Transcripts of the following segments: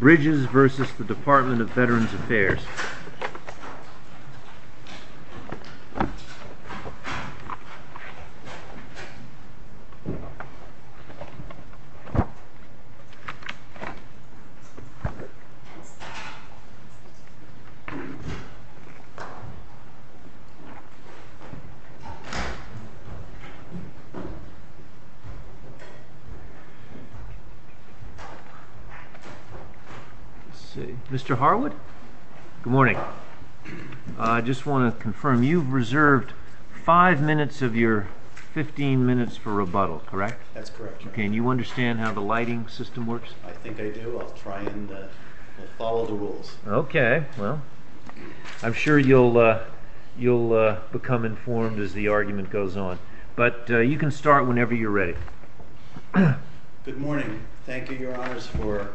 Bridges v. Department of Veterans Affairs Mr. Harwood? Good morning. I just want to confirm, you've reserved 5 minutes of your 15 minutes for rebuttal, correct? That's correct. Can you understand how the lighting system works? I think I do. I'll try and follow the rules. Okay. Well, I'm sure you'll become informed as the argument goes on. But you can start whenever you're ready. Good morning. Thank you, Your Honors, for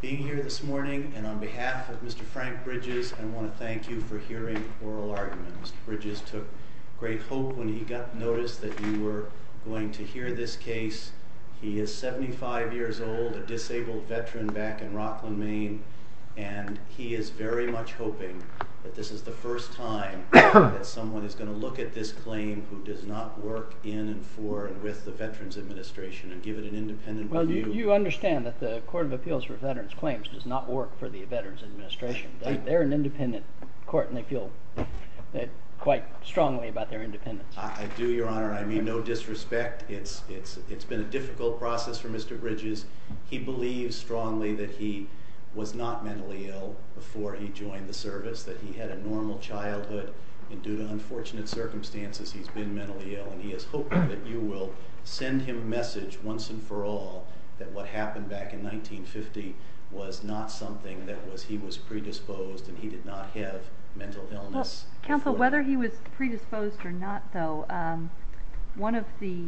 being here this morning. And on behalf of Mr. Frank Bridges, I want to thank you for hearing oral arguments. Mr. Bridges took great hope when he got notice that you were going to hear this case. He is 75 years old, a disabled veteran back in Rockland, Maine. And he is very much hoping that this is the first time that someone is going to look at this claim who does not work in and for and with the Veterans Administration and give it an independent view. Well, you understand that the Court of Appeals for Veterans Claims does not work for the Veterans Administration. They're an independent court, and they feel quite strongly about their independence. I do, Your Honor. I mean no disrespect. It's been a difficult process for Mr. Bridges. He believes strongly that he was not mentally ill before he joined the service, that he had a normal childhood, and due to unfortunate circumstances he's been mentally ill. And he is hoping that you will send him a message once and for all that what happened back in 1950 was not something that was he was predisposed and he did not have mental illness. Counsel, whether he was predisposed or not, though, one of the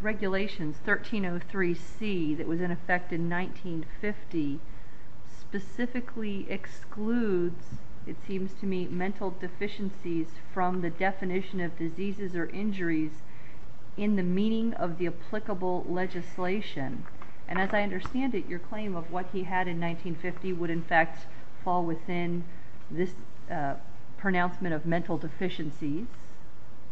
regulations, 1303C, that was in effect in 1950 specifically excludes, it seems to me, mental deficiencies from the definition of diseases or injuries in the meaning of the applicable legislation. And as I understand it, your claim of what he had in 1950 would, in fact, fall within this pronouncement of mental deficiencies,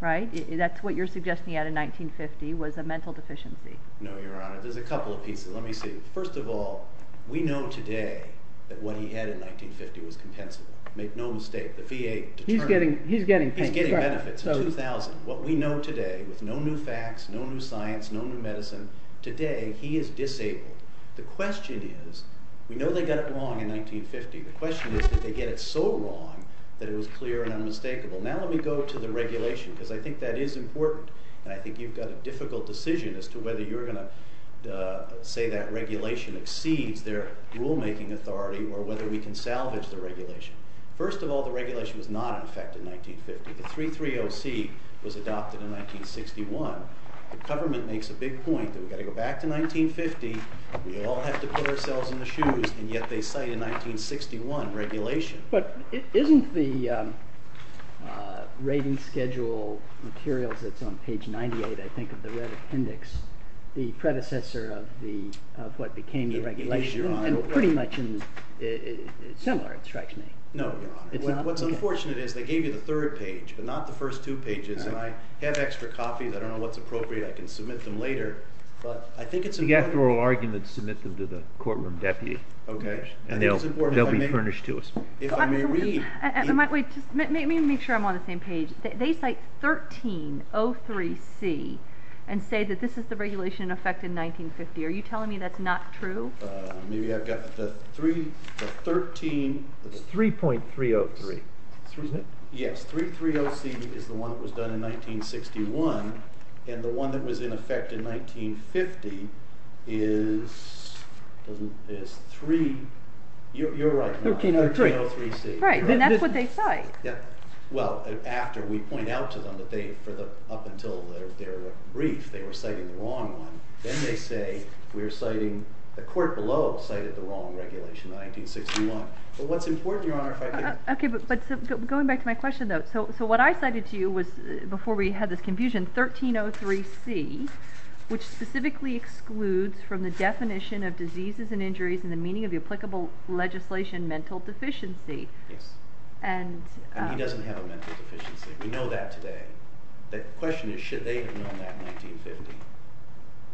right? That's what you're suggesting out of 1950 was a mental deficiency. No, Your Honor. There's a couple of pieces. Let me see. First of all, we know today that what he had in 1950 was compensable. Make no mistake, the VA determined it. He's getting paid. He's getting benefits, $2,000. What we know today, with no new facts, no new science, no new medicine, today he is disabled. The question is, we know they got it wrong in 1950. The question is did they get it so wrong that it was clear and unmistakable. Now let me go to the regulation because I think that is important. And I think you've got a difficult decision as to whether you're going to say that regulation exceeds their rulemaking authority or whether we can salvage the regulation. First of all, the regulation was not in effect in 1950. The 330C was adopted in 1961. The government makes a big point that we've got to go back to 1950. We all have to put ourselves in the shoes, and yet they cite a 1961 regulation. But isn't the rating schedule materials that's on page 98, I think, of the red appendix, the predecessor of what became the regulation? It is, Your Honor. And pretty much similar, it strikes me. No, Your Honor. What's unfortunate is they gave you the third page, but not the first two pages. And I have extra copies. I don't know what's appropriate. I can submit them later. But I think it's important. The after oral arguments, submit them to the courtroom deputy. Okay. And they'll be furnished to us. If I may read. Wait. Let me make sure I'm on the same page. They cite 1303C and say that this is the regulation in effect in 1950. Are you telling me that's not true? Maybe I've got the 13. It's 3.303. Yes. 330C is the one that was done in 1961. And the one that was in effect in 1950 is 3. You're right. 1303C. Right. And that's what they cite. Well, after we point out to them that they, up until their brief, they were citing the wrong one. Then they say we're citing, the court below cited the wrong regulation in 1961. But what's important, Your Honor, if I could. Okay. But going back to my question, though. So what I cited to you was, before we had this confusion, 1303C, which specifically excludes from the definition of diseases and injuries and the meaning of the applicable legislation mental deficiency. Yes. And he doesn't have a mental deficiency. We know that today. The question is should they have known that in 1950.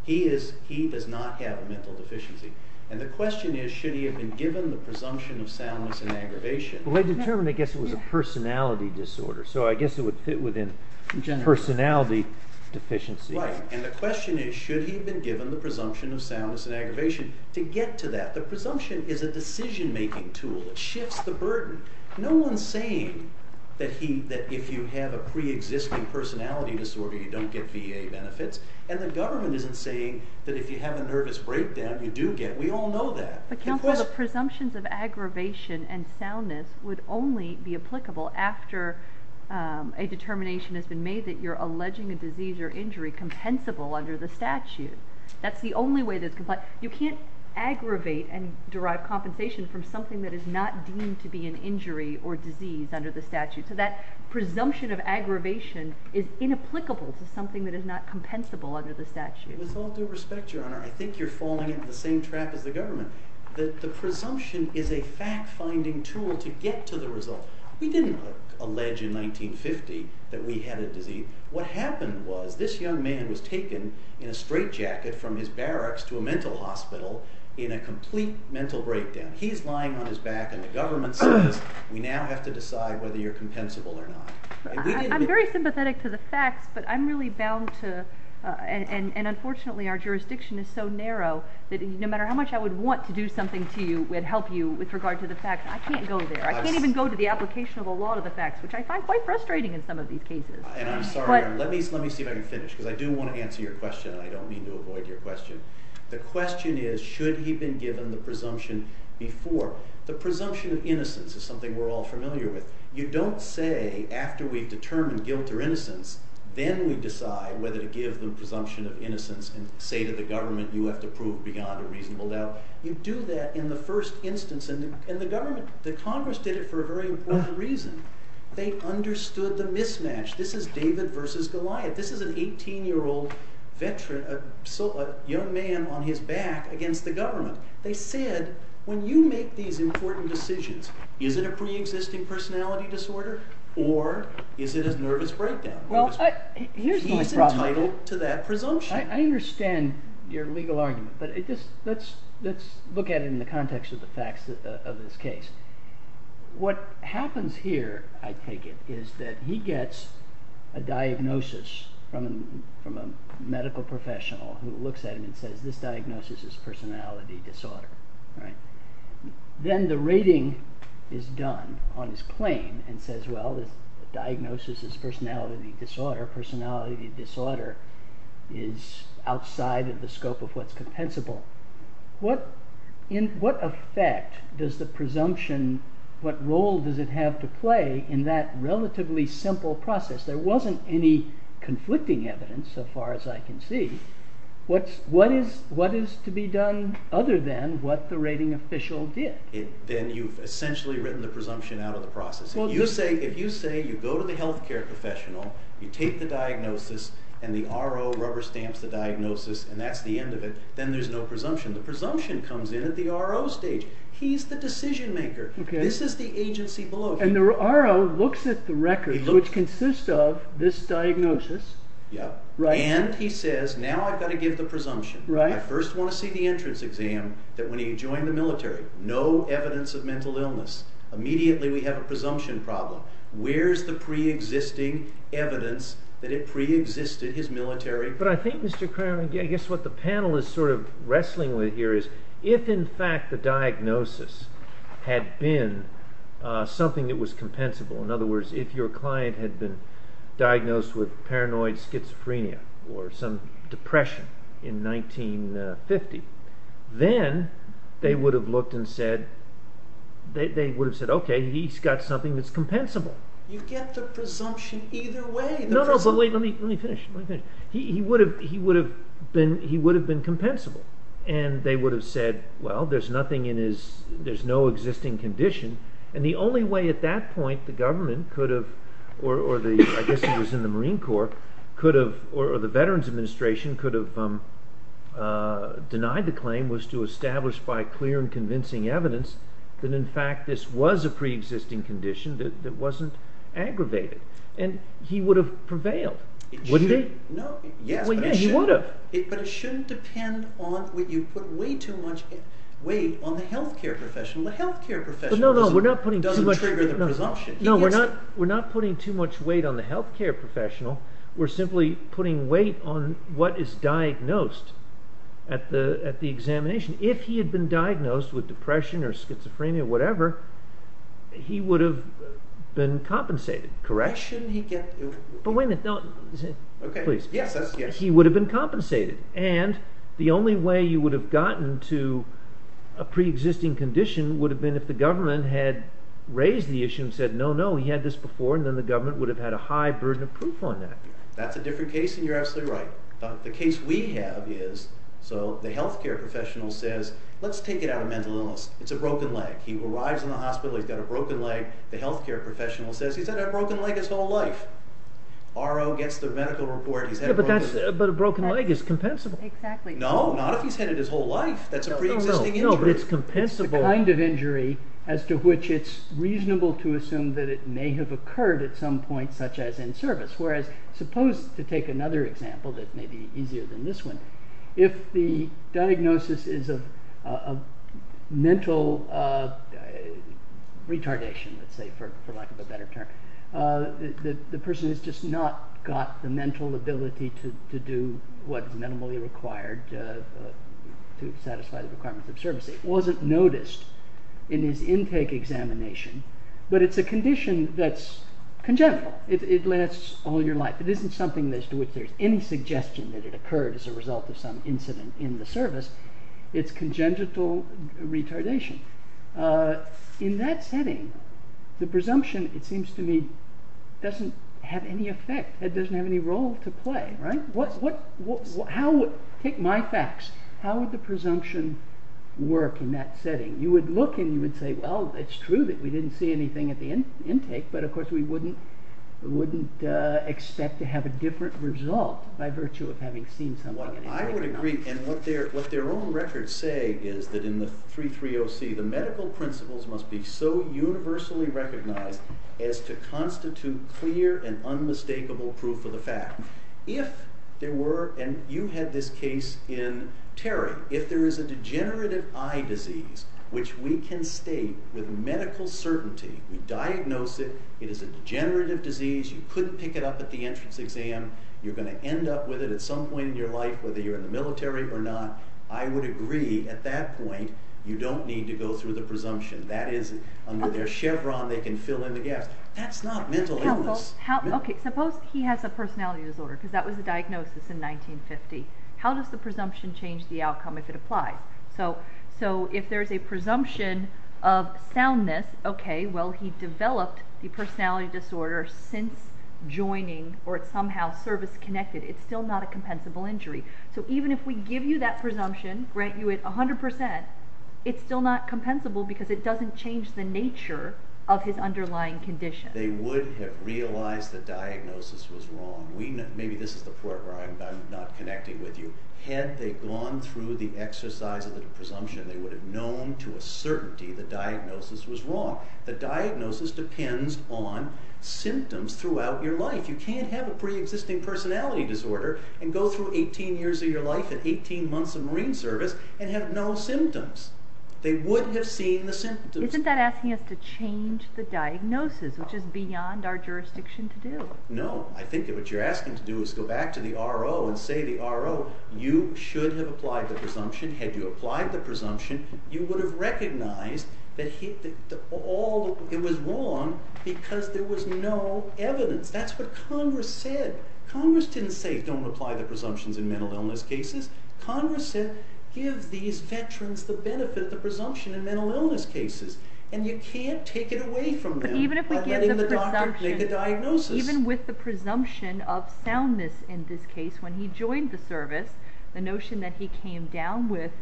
He does not have a mental deficiency. And the question is should he have been given the presumption of soundness and aggravation. Well, they determined I guess it was a personality disorder. So I guess it would fit within personality deficiency. And the question is should he have been given the presumption of soundness and aggravation. To get to that, the presumption is a decision-making tool. It shifts the burden. No one's saying that if you have a preexisting personality disorder, you don't get VA benefits. And the government isn't saying that if you have a nervous breakdown, you do get. We all know that. But, Counselor, the presumptions of aggravation and soundness would only be applicable after a determination has been made that you're alleging a disease or injury compensable under the statute. That's the only way that's compliant. You can't aggravate and derive compensation from something that is not deemed to be an injury or disease under the statute. So that presumption of aggravation is inapplicable to something that is not compensable under the statute. With all due respect, Your Honor, I think you're falling into the same trap as the government. The presumption is a fact-finding tool to get to the result. We didn't allege in 1950 that we had a disease. What happened was this young man was taken in a straitjacket from his barracks to a mental hospital in a complete mental breakdown. He's lying on his back, and the government says, we now have to decide whether you're compensable or not. I'm very sympathetic to the facts, but I'm really bound to, and unfortunately our jurisdiction is so narrow that no matter how much I would want to do something to you and help you with regard to the facts, I can't go there. I can't even go to the application of a lot of the facts, which I find quite frustrating in some of these cases. And I'm sorry, let me see if I can finish, because I do want to answer your question, and I don't mean to avoid your question. The question is, should he have been given the presumption before? The presumption of innocence is something we're all familiar with. You don't say, after we've determined guilt or innocence, then we decide whether to give the presumption of innocence and say to the government, you have to prove beyond a reasonable doubt. You do that in the first instance, and the government, the Congress did it for a very important reason. They understood the mismatch. This is David versus Goliath. This is an 18-year-old veteran, a young man on his back against the government. They said, when you make these important decisions, is it a preexisting personality disorder, or is it a nervous breakdown? He's entitled to that presumption. I understand your legal argument, but let's look at it in the context of the facts of this case. What happens here, I take it, is that he gets a diagnosis from a medical professional who looks at him and says, this diagnosis is personality disorder. Then the rating is done on his claim and says, well, this diagnosis is personality disorder. Personality disorder is outside of the scope of what's compensable. What effect does the presumption, what role does it have to play in that relatively simple process? There wasn't any conflicting evidence so far as I can see. What is to be done other than what the rating official did? Then you've essentially written the presumption out of the process. If you say you go to the health care professional, you take the diagnosis, and the RO rubber stamps the diagnosis, and that's the end of it, then there's no presumption. The presumption comes in at the RO stage. He's the decision maker. This is the agency below him. And the RO looks at the record, which consists of this diagnosis. And he says, now I've got to give the presumption. I first want to see the entrance exam that when he joined the military. No evidence of mental illness. Immediately we have a presumption problem. Where's the pre-existing evidence that it pre-existed, his military? But I think, Mr. Kramer, I guess what the panel is sort of wrestling with here is, if in fact the diagnosis had been something that was compensable, in other words, if your client had been diagnosed with paranoid schizophrenia or some depression in 1950, then they would have said, okay, he's got something that's compensable. You get the presumption either way. No, no, but wait, let me finish. He would have been compensable. And they would have said, well, there's no existing condition. And the only way at that point the government could have, or I guess he was in the Marine Corps, or the Veterans Administration could have denied the claim was to establish by clear and convincing evidence that in fact this was a pre-existing condition that wasn't aggravated. And he would have prevailed, wouldn't he? Yes, but it shouldn't depend on, you put way too much weight on the health care professional. The health care professional doesn't trigger the presumption. No, we're not putting too much weight on the health care professional. We're simply putting weight on what is diagnosed at the examination. If he had been diagnosed with depression or schizophrenia or whatever, he would have been compensated. Correct? Shouldn't he get... But wait a minute. Okay. Please. Yes, yes. He would have been compensated. And the only way you would have gotten to a pre-existing condition would have been if the government had raised the issue and said, no, no, he had this before, and then the government would have had a high burden of proof on that. That's a different case, and you're absolutely right. The case we have is, so the health care professional says, let's take it out of mental illness. It's a broken leg. He arrives in the hospital. He's got a broken leg. The health care professional says, he's had a broken leg his whole life. RO gets the medical report. But a broken leg is compensable. Exactly. No, not if he's had it his whole life. That's a pre-existing injury. No, but it's compensable. It's the kind of injury as to which it's reasonable to assume that it may have occurred at some point, such as in service. Whereas, suppose, to take another example that may be easier than this one, if the diagnosis is a mental retardation, let's say, for lack of a better term, the person has just not got the mental ability to do what is minimally required to satisfy the requirements of service. It wasn't noticed in his intake examination. But it's a condition that's congenital. It lasts all your life. It isn't something as to which there's any suggestion that it occurred as a result of some incident in the service. It's congenital retardation. In that setting, the presumption, it seems to me, doesn't have any effect. It doesn't have any role to play, right? Take my facts. How would the presumption work in that setting? You would look and you would say, well, it's true that we didn't see anything at the intake, but of course we wouldn't expect to have a different result by virtue of having seen something at intake or not. Well, I would agree. And what their own records say is that in the 330C, the medical principles must be so universally recognized as to constitute clear and unmistakable proof of the fact. If there were, and you had this case in Terry, if there is a degenerative eye disease, which we can state with medical certainty, we diagnose it, it is a degenerative disease, you couldn't pick it up at the entrance exam, you're going to end up with it at some point in your life, whether you're in the military or not, I would agree at that point you don't need to go through the presumption. That is, under their chevron, they can fill in the gaps. That's not mental illness. Suppose he has a personality disorder, because that was the diagnosis in 1950. How does the presumption change the outcome if it applies? So if there's a presumption of soundness, okay, well, he developed the personality disorder since joining, or it's somehow service-connected, it's still not a compensable injury. So even if we give you that presumption, grant you it 100%, it's still not compensable because it doesn't change the nature of his underlying condition. They would have realized the diagnosis was wrong. Maybe this is the part where I'm not connecting with you. Had they gone through the exercise of the presumption, they would have known to a certainty the diagnosis was wrong. The diagnosis depends on symptoms throughout your life. You can't have a preexisting personality disorder and go through 18 years of your life and 18 months of Marine service and have no symptoms. They would have seen the symptoms. Isn't that asking us to change the diagnosis, which is beyond our jurisdiction to do? No. I think what you're asking to do is go back to the RO and say to the RO, you should have applied the presumption. Had you applied the presumption, you would have recognized that it was wrong because there was no evidence. That's what Congress said. Congress didn't say don't apply the presumptions in mental illness cases. Congress said give these veterans the benefit of the presumption in mental illness cases, and you can't take it away from them. By letting the doctor make a diagnosis. Even with the presumption of soundness in this case, when he joined the service, the notion that he came down with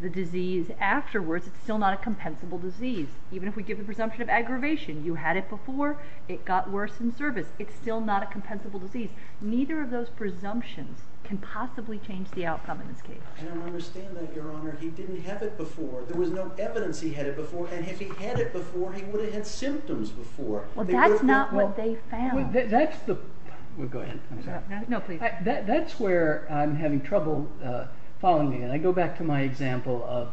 the disease afterwards, it's still not a compensable disease. Even if we give the presumption of aggravation, you had it before, it got worse in service. It's still not a compensable disease. Neither of those presumptions can possibly change the outcome in this case. I understand that, Your Honor. He didn't have it before. There was no evidence he had it before, and if he had it before, he would have had symptoms before. That's not what they found. That's where I'm having trouble following you. I go back to my example of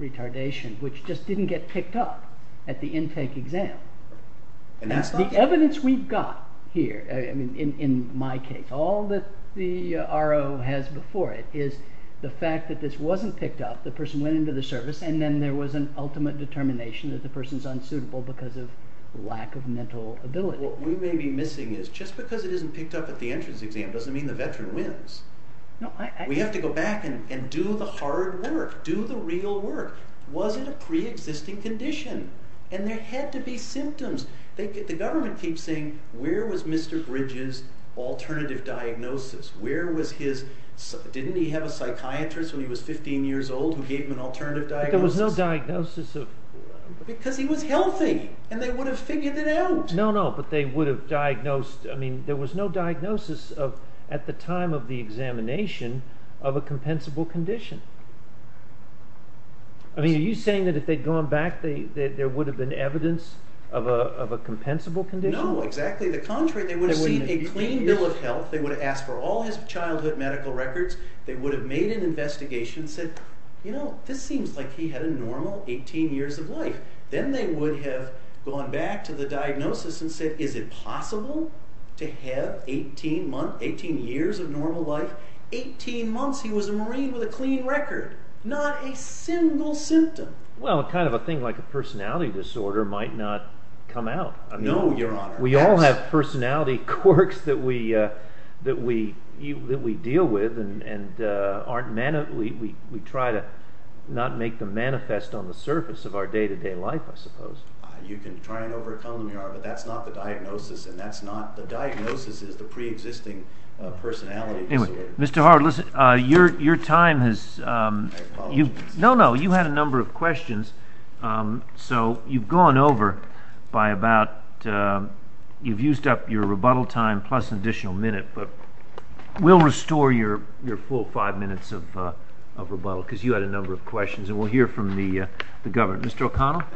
retardation, which just didn't get picked up at the intake exam. The evidence we've got here in my case, all that the RO has before it, is the fact that this wasn't picked up, the person went into the service, and then there was an ultimate determination that the person's unsuitable because of lack of mental ability. What we may be missing is, just because it isn't picked up at the entrance exam doesn't mean the veteran wins. We have to go back and do the hard work, do the real work. Was it a pre-existing condition? And there had to be symptoms. The government keeps saying, where was Mr. Bridges' alternative diagnosis? Didn't he have a psychiatrist when he was 15 years old who gave him an alternative diagnosis? But there was no diagnosis of... Because he was healthy, and they would have figured it out. No, no, but they would have diagnosed... I mean, there was no diagnosis at the time of the examination of a compensable condition. Are you saying that if they'd gone back, there would have been evidence of a compensable condition? No, exactly the contrary. They would have seen a clean bill of health. They would have asked for all his childhood medical records. They would have made an investigation and said, you know, this seems like he had a normal 18 years of life. Then they would have gone back to the diagnosis and said, is it possible to have 18 years of normal life? 18 months, he was a Marine with a clean record. Not a single symptom. Well, kind of a thing like a personality disorder might not come out. No, Your Honor. We all have personality quirks that we deal with, and we try to not make them manifest on the surface of our day-to-day life, I suppose. You can try and overcome them, Your Honor, but that's not the diagnosis, and that's not... The diagnosis is the preexisting personality disorder. Anyway, Mr. Howard, listen, your time has... My apologies. No, no, you had a number of questions, so you've gone over by about... You've used up your rebuttal time plus an additional minute, but we'll restore your full five minutes of rebuttal because you had a number of questions, and we'll hear from the governor. Mr. O'Connell? Mr.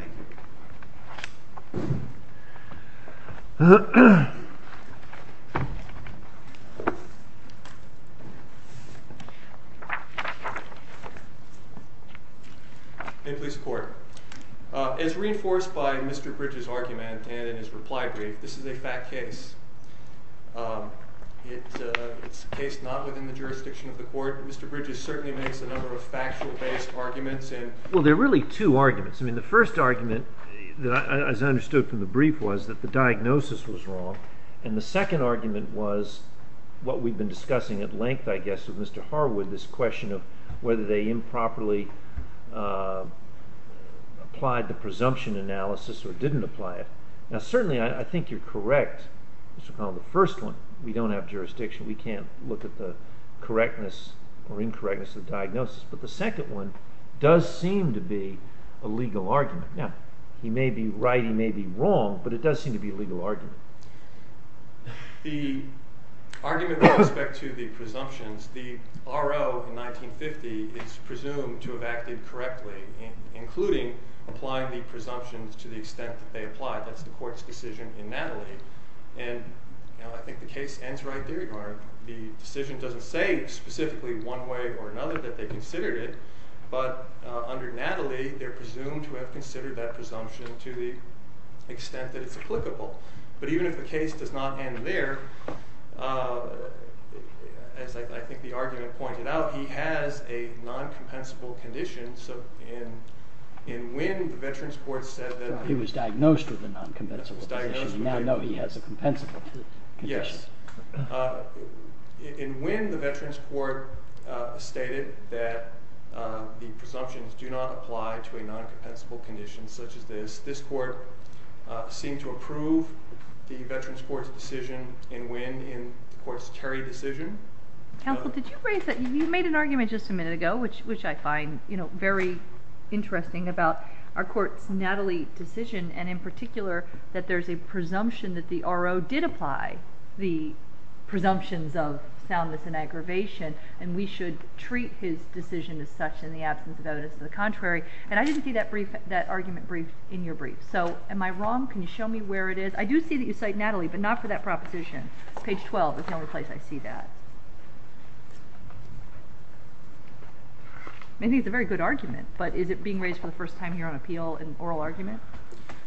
O'Connell? In police court, as reinforced by Mr. Bridges' argument and in his reply brief, this is a fact case. It's a case not within the jurisdiction of the court. Mr. Bridges certainly makes a number of factual-based arguments. Well, there are really two arguments. I mean, the first argument, as I understood from the brief, was that the diagnosis was wrong, and the second argument was what we've been discussing at length, I guess, with Mr. Harwood, this question of whether they improperly applied the presumption analysis or didn't apply it. Now, certainly, I think you're correct, Mr. O'Connell. The first one, we don't have jurisdiction. We can't look at the correctness or incorrectness of the diagnosis, but the second one does seem to be a legal argument. Now, he may be right, he may be wrong, but it does seem to be a legal argument. The argument with respect to the presumptions, the R.O. in 1950 is presumed to have acted correctly, including applying the presumptions to the extent that they apply. That's the court's decision in Natalie. And I think the case ends right there, the decision doesn't say specifically one way or another that they considered it, but under Natalie, they're presumed to have considered that presumption to the extent that it's applicable. But even if the case does not end there, as I think the argument pointed out, he has a non-compensable condition, so in when the Veterans Court said that... He was diagnosed with a non-compensable condition. He was diagnosed with a... We now know he has a compensable condition. Yes, in when the Veterans Court stated that the presumptions do not apply to a non-compensable condition such as this, this court seemed to approve the Veterans Court's decision in when in the court's Terry decision. Counsel, did you raise that? You made an argument just a minute ago, which I find very interesting, about our court's Natalie decision, and in particular that there's a presumption that the RO did apply the presumptions of soundness and aggravation, and we should treat his decision as such in the absence of evidence of the contrary. And I didn't see that argument briefed in your brief. So am I wrong? Can you show me where it is? I do see that you cite Natalie, but not for that proposition. Page 12 is the only place I see that. I think it's a very good argument, but is it being raised for the first time here on appeal in oral argument?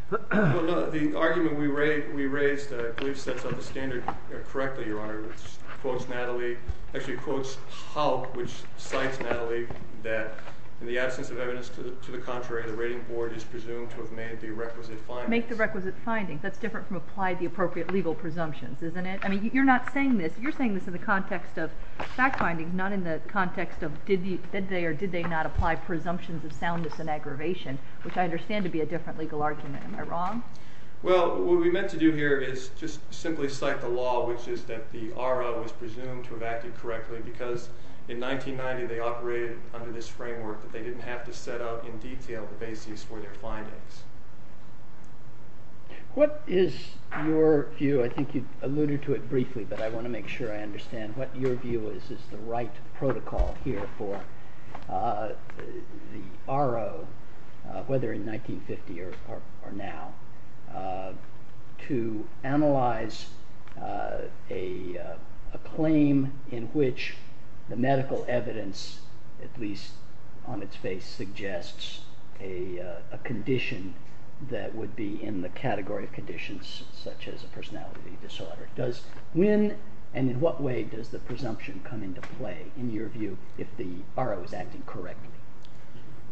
The argument we raised, I believe, sets out the standard correctly, Your Honor, which quotes Natalie, actually quotes Haupt, which cites Natalie that in the absence of evidence to the contrary, the rating board is presumed to have made the requisite findings. Make the requisite findings. That's different from apply the appropriate legal presumptions, isn't it? I mean, you're not saying this. You're saying this in the context of fact findings, not in the context of did they or did they not apply presumptions of soundness and aggravation. Which I understand to be a different legal argument. Am I wrong? Well, what we meant to do here is just simply cite the law, which is that the RO was presumed to have acted correctly because in 1990 they operated under this framework that they didn't have to set out in detail the basis for their findings. What is your view? I think you alluded to it briefly, but I want to make sure I understand. What your view is is the right protocol here for the RO, whether in 1950 or now, to analyze a claim in which the medical evidence, at least on its face, suggests a condition that would be in the category of conditions such as a personality disorder. Does when and in what way does the presumption come into play, in your view, if the RO is acting correctly?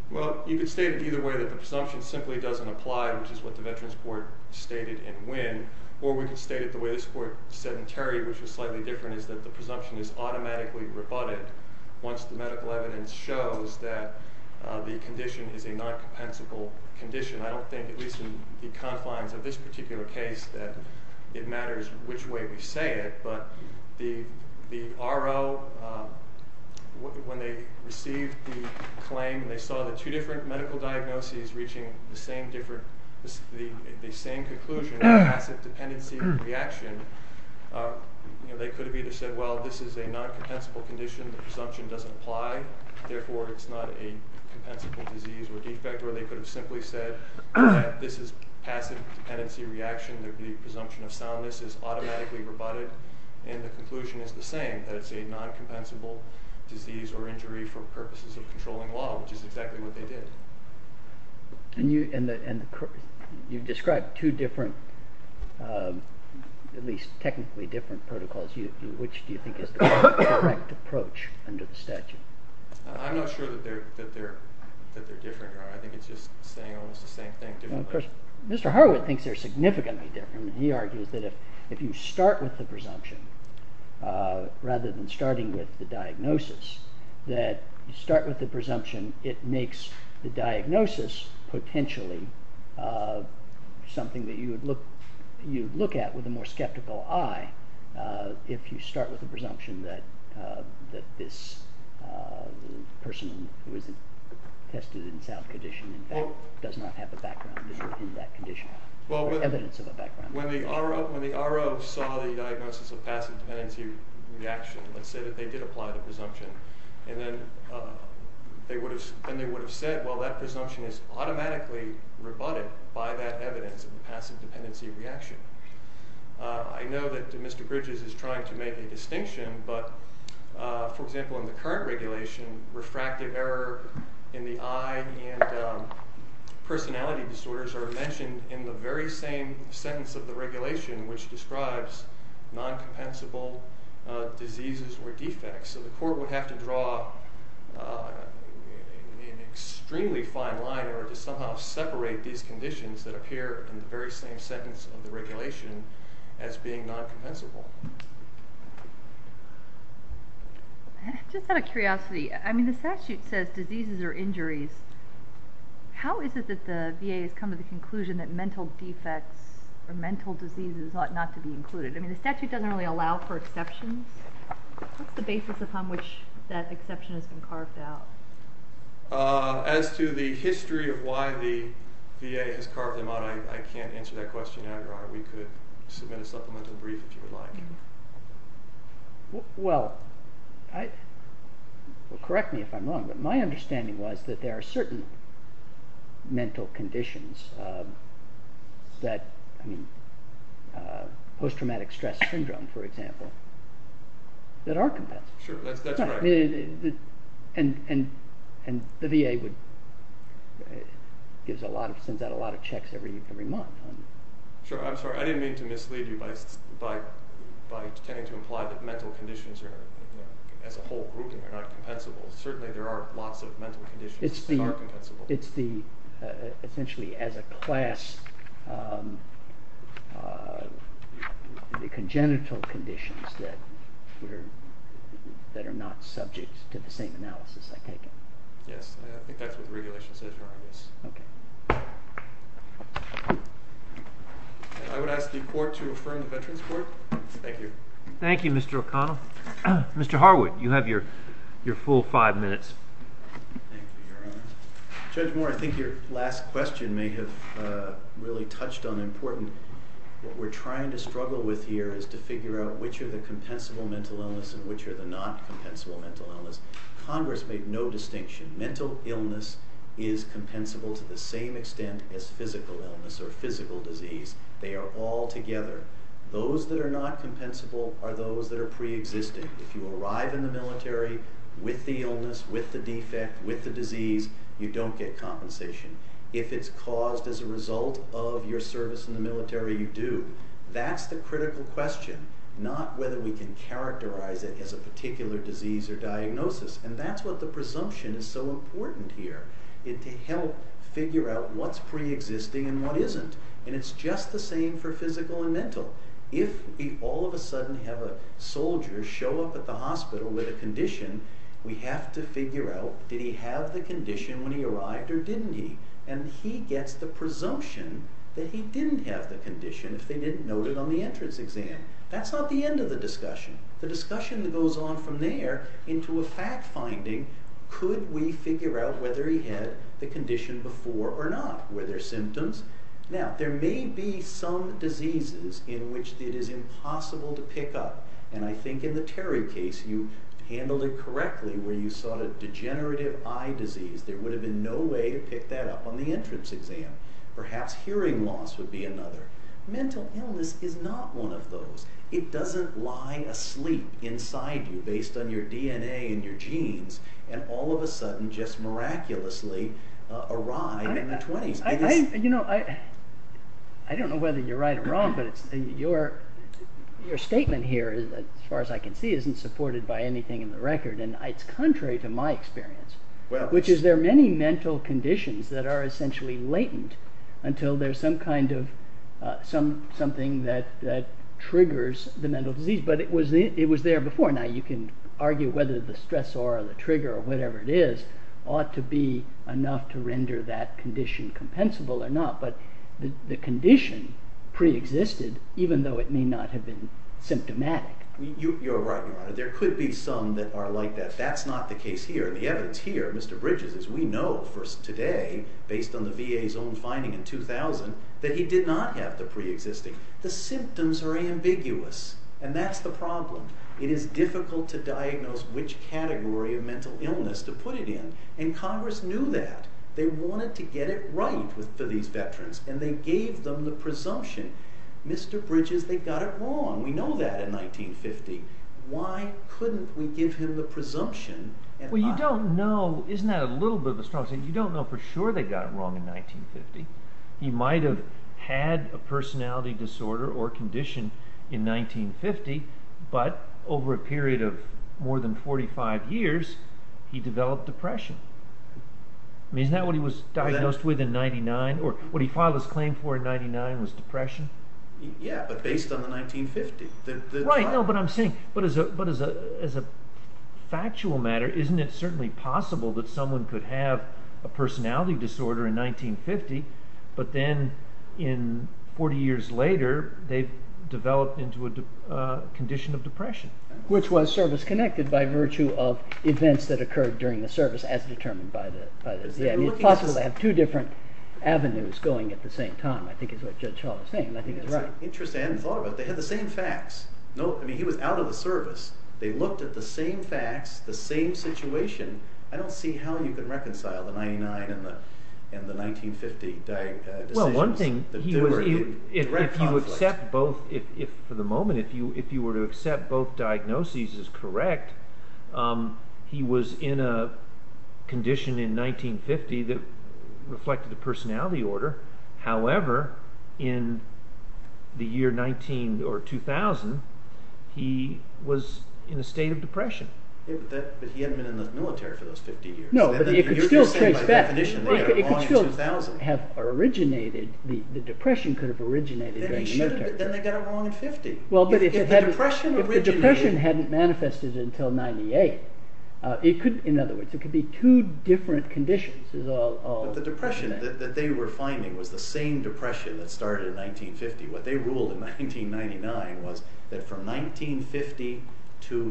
Well, you could state it either way, that the presumption simply doesn't apply, which is what the Veterans Court stated in when. Or we could state it the way this Court said in Terry, which is slightly different, is that the presumption is automatically rebutted once the medical evidence shows that the condition is a non-compensable condition. I don't think, at least in the confines of this particular case, that it matters which way we say it. But the RO, when they received the claim, they saw the two different medical diagnoses reaching the same conclusion of passive dependency reaction, they could have either said, well, this is a non-compensable condition, the presumption doesn't apply, therefore it's not a compensable disease or defect, or they could have simply said that this is passive dependency reaction, the presumption of soundness is automatically rebutted, and the conclusion is the same, that it's a non-compensable disease or injury for purposes of controlling law, which is exactly what they did. And you've described two different, at least technically different protocols, which do you think is the correct approach under the statute? I'm not sure that they're different, I think it's just saying almost the same thing differently. Mr. Harwood thinks they're significantly different. He argues that if you start with the presumption, rather than starting with the diagnosis, that you start with the presumption, it makes the diagnosis potentially something that you would look at with a more skeptical eye if you start with the presumption that this person who was tested in sound condition in fact does not have a background in that condition, or evidence of a background. When the RO saw the diagnosis of passive dependency reaction and said that they did apply the presumption, then they would have said, well that presumption is automatically rebutted by that evidence of passive dependency reaction. I know that Mr. Bridges is trying to make a distinction, but for example in the current regulation, refractive error in the eye and personality disorders are mentioned in the very same sentence of the regulation which describes non-compensable diseases or defects. So the court would have to draw an extremely fine line in order to somehow separate these conditions that appear in the very same sentence of the regulation as being non-compensable. Just out of curiosity, the statute says diseases or injuries. How is it that the VA has come to the conclusion that mental defects or mental diseases ought not to be included? The statute doesn't really allow for exceptions. What's the basis upon which that exception has been carved out? As to the history of why the VA has carved them out, I can't answer that question now, Your Honor. We could submit a supplemental brief if you would like. Well, correct me if I'm wrong, but my understanding was that there are certain mental conditions that post-traumatic stress syndrome, for example, that are compensable. Sure, that's right. And the VA sends out a lot of checks every month. Sure, I'm sorry. I didn't mean to mislead you by tending to imply that mental conditions as a whole group are not compensable. Certainly there are lots of mental conditions that are compensable. It's essentially as a class the congenital conditions that are not subject to the same analysis I've taken. I would ask the Court to affirm the Veterans Court. Thank you. Thank you, Mr. O'Connell. Mr. Harwood, you have your full five minutes. Thank you, Your Honor. Judge Moore, I think your last question may have really touched on important. What we're trying to struggle with here is to figure out which are the compensable mental illness and which are the non-compensable mental illness. Congress made no distinction. Mental illness is compensable to the same extent as physical illness or physical disease. They are all together. Those that are not compensable are those that are preexisting. If you arrive in the military with the illness, with the defect, with the disease, you don't get compensation. If it's caused as a result of your service in the military, you do. That's the critical question, not whether we can characterize it as a particular disease or diagnosis. And that's what the presumption is so important here, to help figure out what's preexisting and what isn't. And it's just the same for physical and mental. If we all of a sudden have a soldier show up at the hospital with a condition, we have to figure out, did he have the condition when he arrived or didn't he? And he gets the presumption that he didn't have the condition if they didn't note it on the entrance exam. That's not the end of the discussion. The discussion that goes on from there into a fact-finding, could we figure out whether he had the condition before or not? Were there symptoms? Now, there may be some diseases in which it is impossible to pick up. And I think in the Terry case, you handled it correctly, where you sought a degenerative eye disease. There would have been no way to pick that up on the entrance exam. Perhaps hearing loss would be another. Mental illness is not one of those. It doesn't lie asleep inside you based on your DNA and your genes and all of a sudden just miraculously arrive in the 20s. I don't know whether you're right or wrong, but your statement here, as far as I can see, isn't supported by anything in the record. And it's contrary to my experience, which is there are many mental conditions that are essentially latent until there's something that triggers the mental disease. But it was there before. Now, you can argue whether the stressor or the trigger or whatever it is ought to be enough to render that condition compensable or not, but the condition preexisted, even though it may not have been symptomatic. You're right, Your Honor. There could be some that are like that. That's not the case here. The evidence here, Mr. Bridges, as we know today, based on the VA's own finding in 2000, that he did not have the preexisting. The symptoms are ambiguous, and that's the problem. It is difficult to diagnose which category of mental illness to put it in, and Congress knew that. They wanted to get it right for these veterans, and they gave them the presumption. Mr. Bridges, they got it wrong. We know that in 1950. Why couldn't we give him the presumption? Well, you don't know. Isn't that a little bit of a strong statement? You don't know for sure they got it wrong in 1950. He might have had a personality disorder or condition in 1950, but over a period of more than 45 years, he developed depression. Isn't that what he was diagnosed with in 1999, or what he filed his claim for in 1999 was depression? Yeah, but based on the 1950. Right, but I'm saying as a factual matter, isn't it certainly possible that someone could have a personality disorder in 1950, but then 40 years later, they've developed into a condition of depression? Which was service-connected by virtue of events that occurred during the service as determined by the… It's possible to have two different avenues going at the same time. I think it's what Judge Hall is saying, and I think he's right. It's interesting. I hadn't thought about it. They had the same facts. He was out of the service. They looked at the same facts, the same situation. I don't see how you can reconcile the 99 and the 1950 decisions. Well, one thing, if you accept both, for the moment, if you were to accept both diagnoses as correct, he was in a condition in 1950 that reflected a personality order. However, in the year 2000, he was in a state of depression. But he hadn't been in the military for those 50 years. No, but it could still have originated, the depression could have originated during the military. Then they got it wrong in 50. If the depression hadn't manifested until 98, in other words, it could be two different conditions. But the depression that they were finding was the same depression that started in 1950. What they ruled in 1999 was that from 1950 to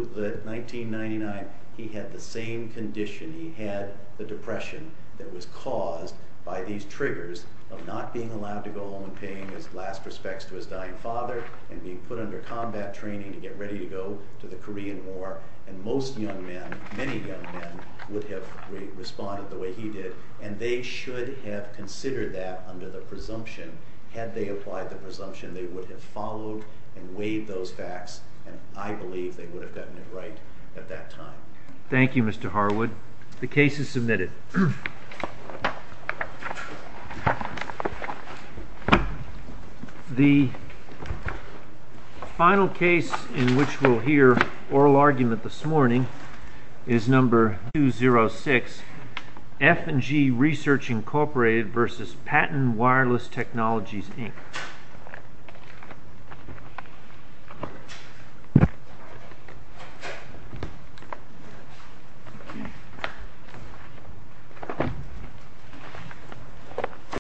1999, he had the same condition. He had the depression that was caused by these triggers of not being allowed to go home and paying his last respects to his dying father and being put under combat training to get ready to go to the Korean War. And most young men, many young men, would have responded the way he did. And they should have considered that under the presumption. Had they applied the presumption, they would have followed and weighed those facts, and I believe they would have gotten it right at that time. Thank you, Mr. Harwood. The case is submitted. The final case in which we'll hear oral argument this morning is number 206, F&G Research Incorporated versus Patton Wireless Technologies, Inc. Thank you.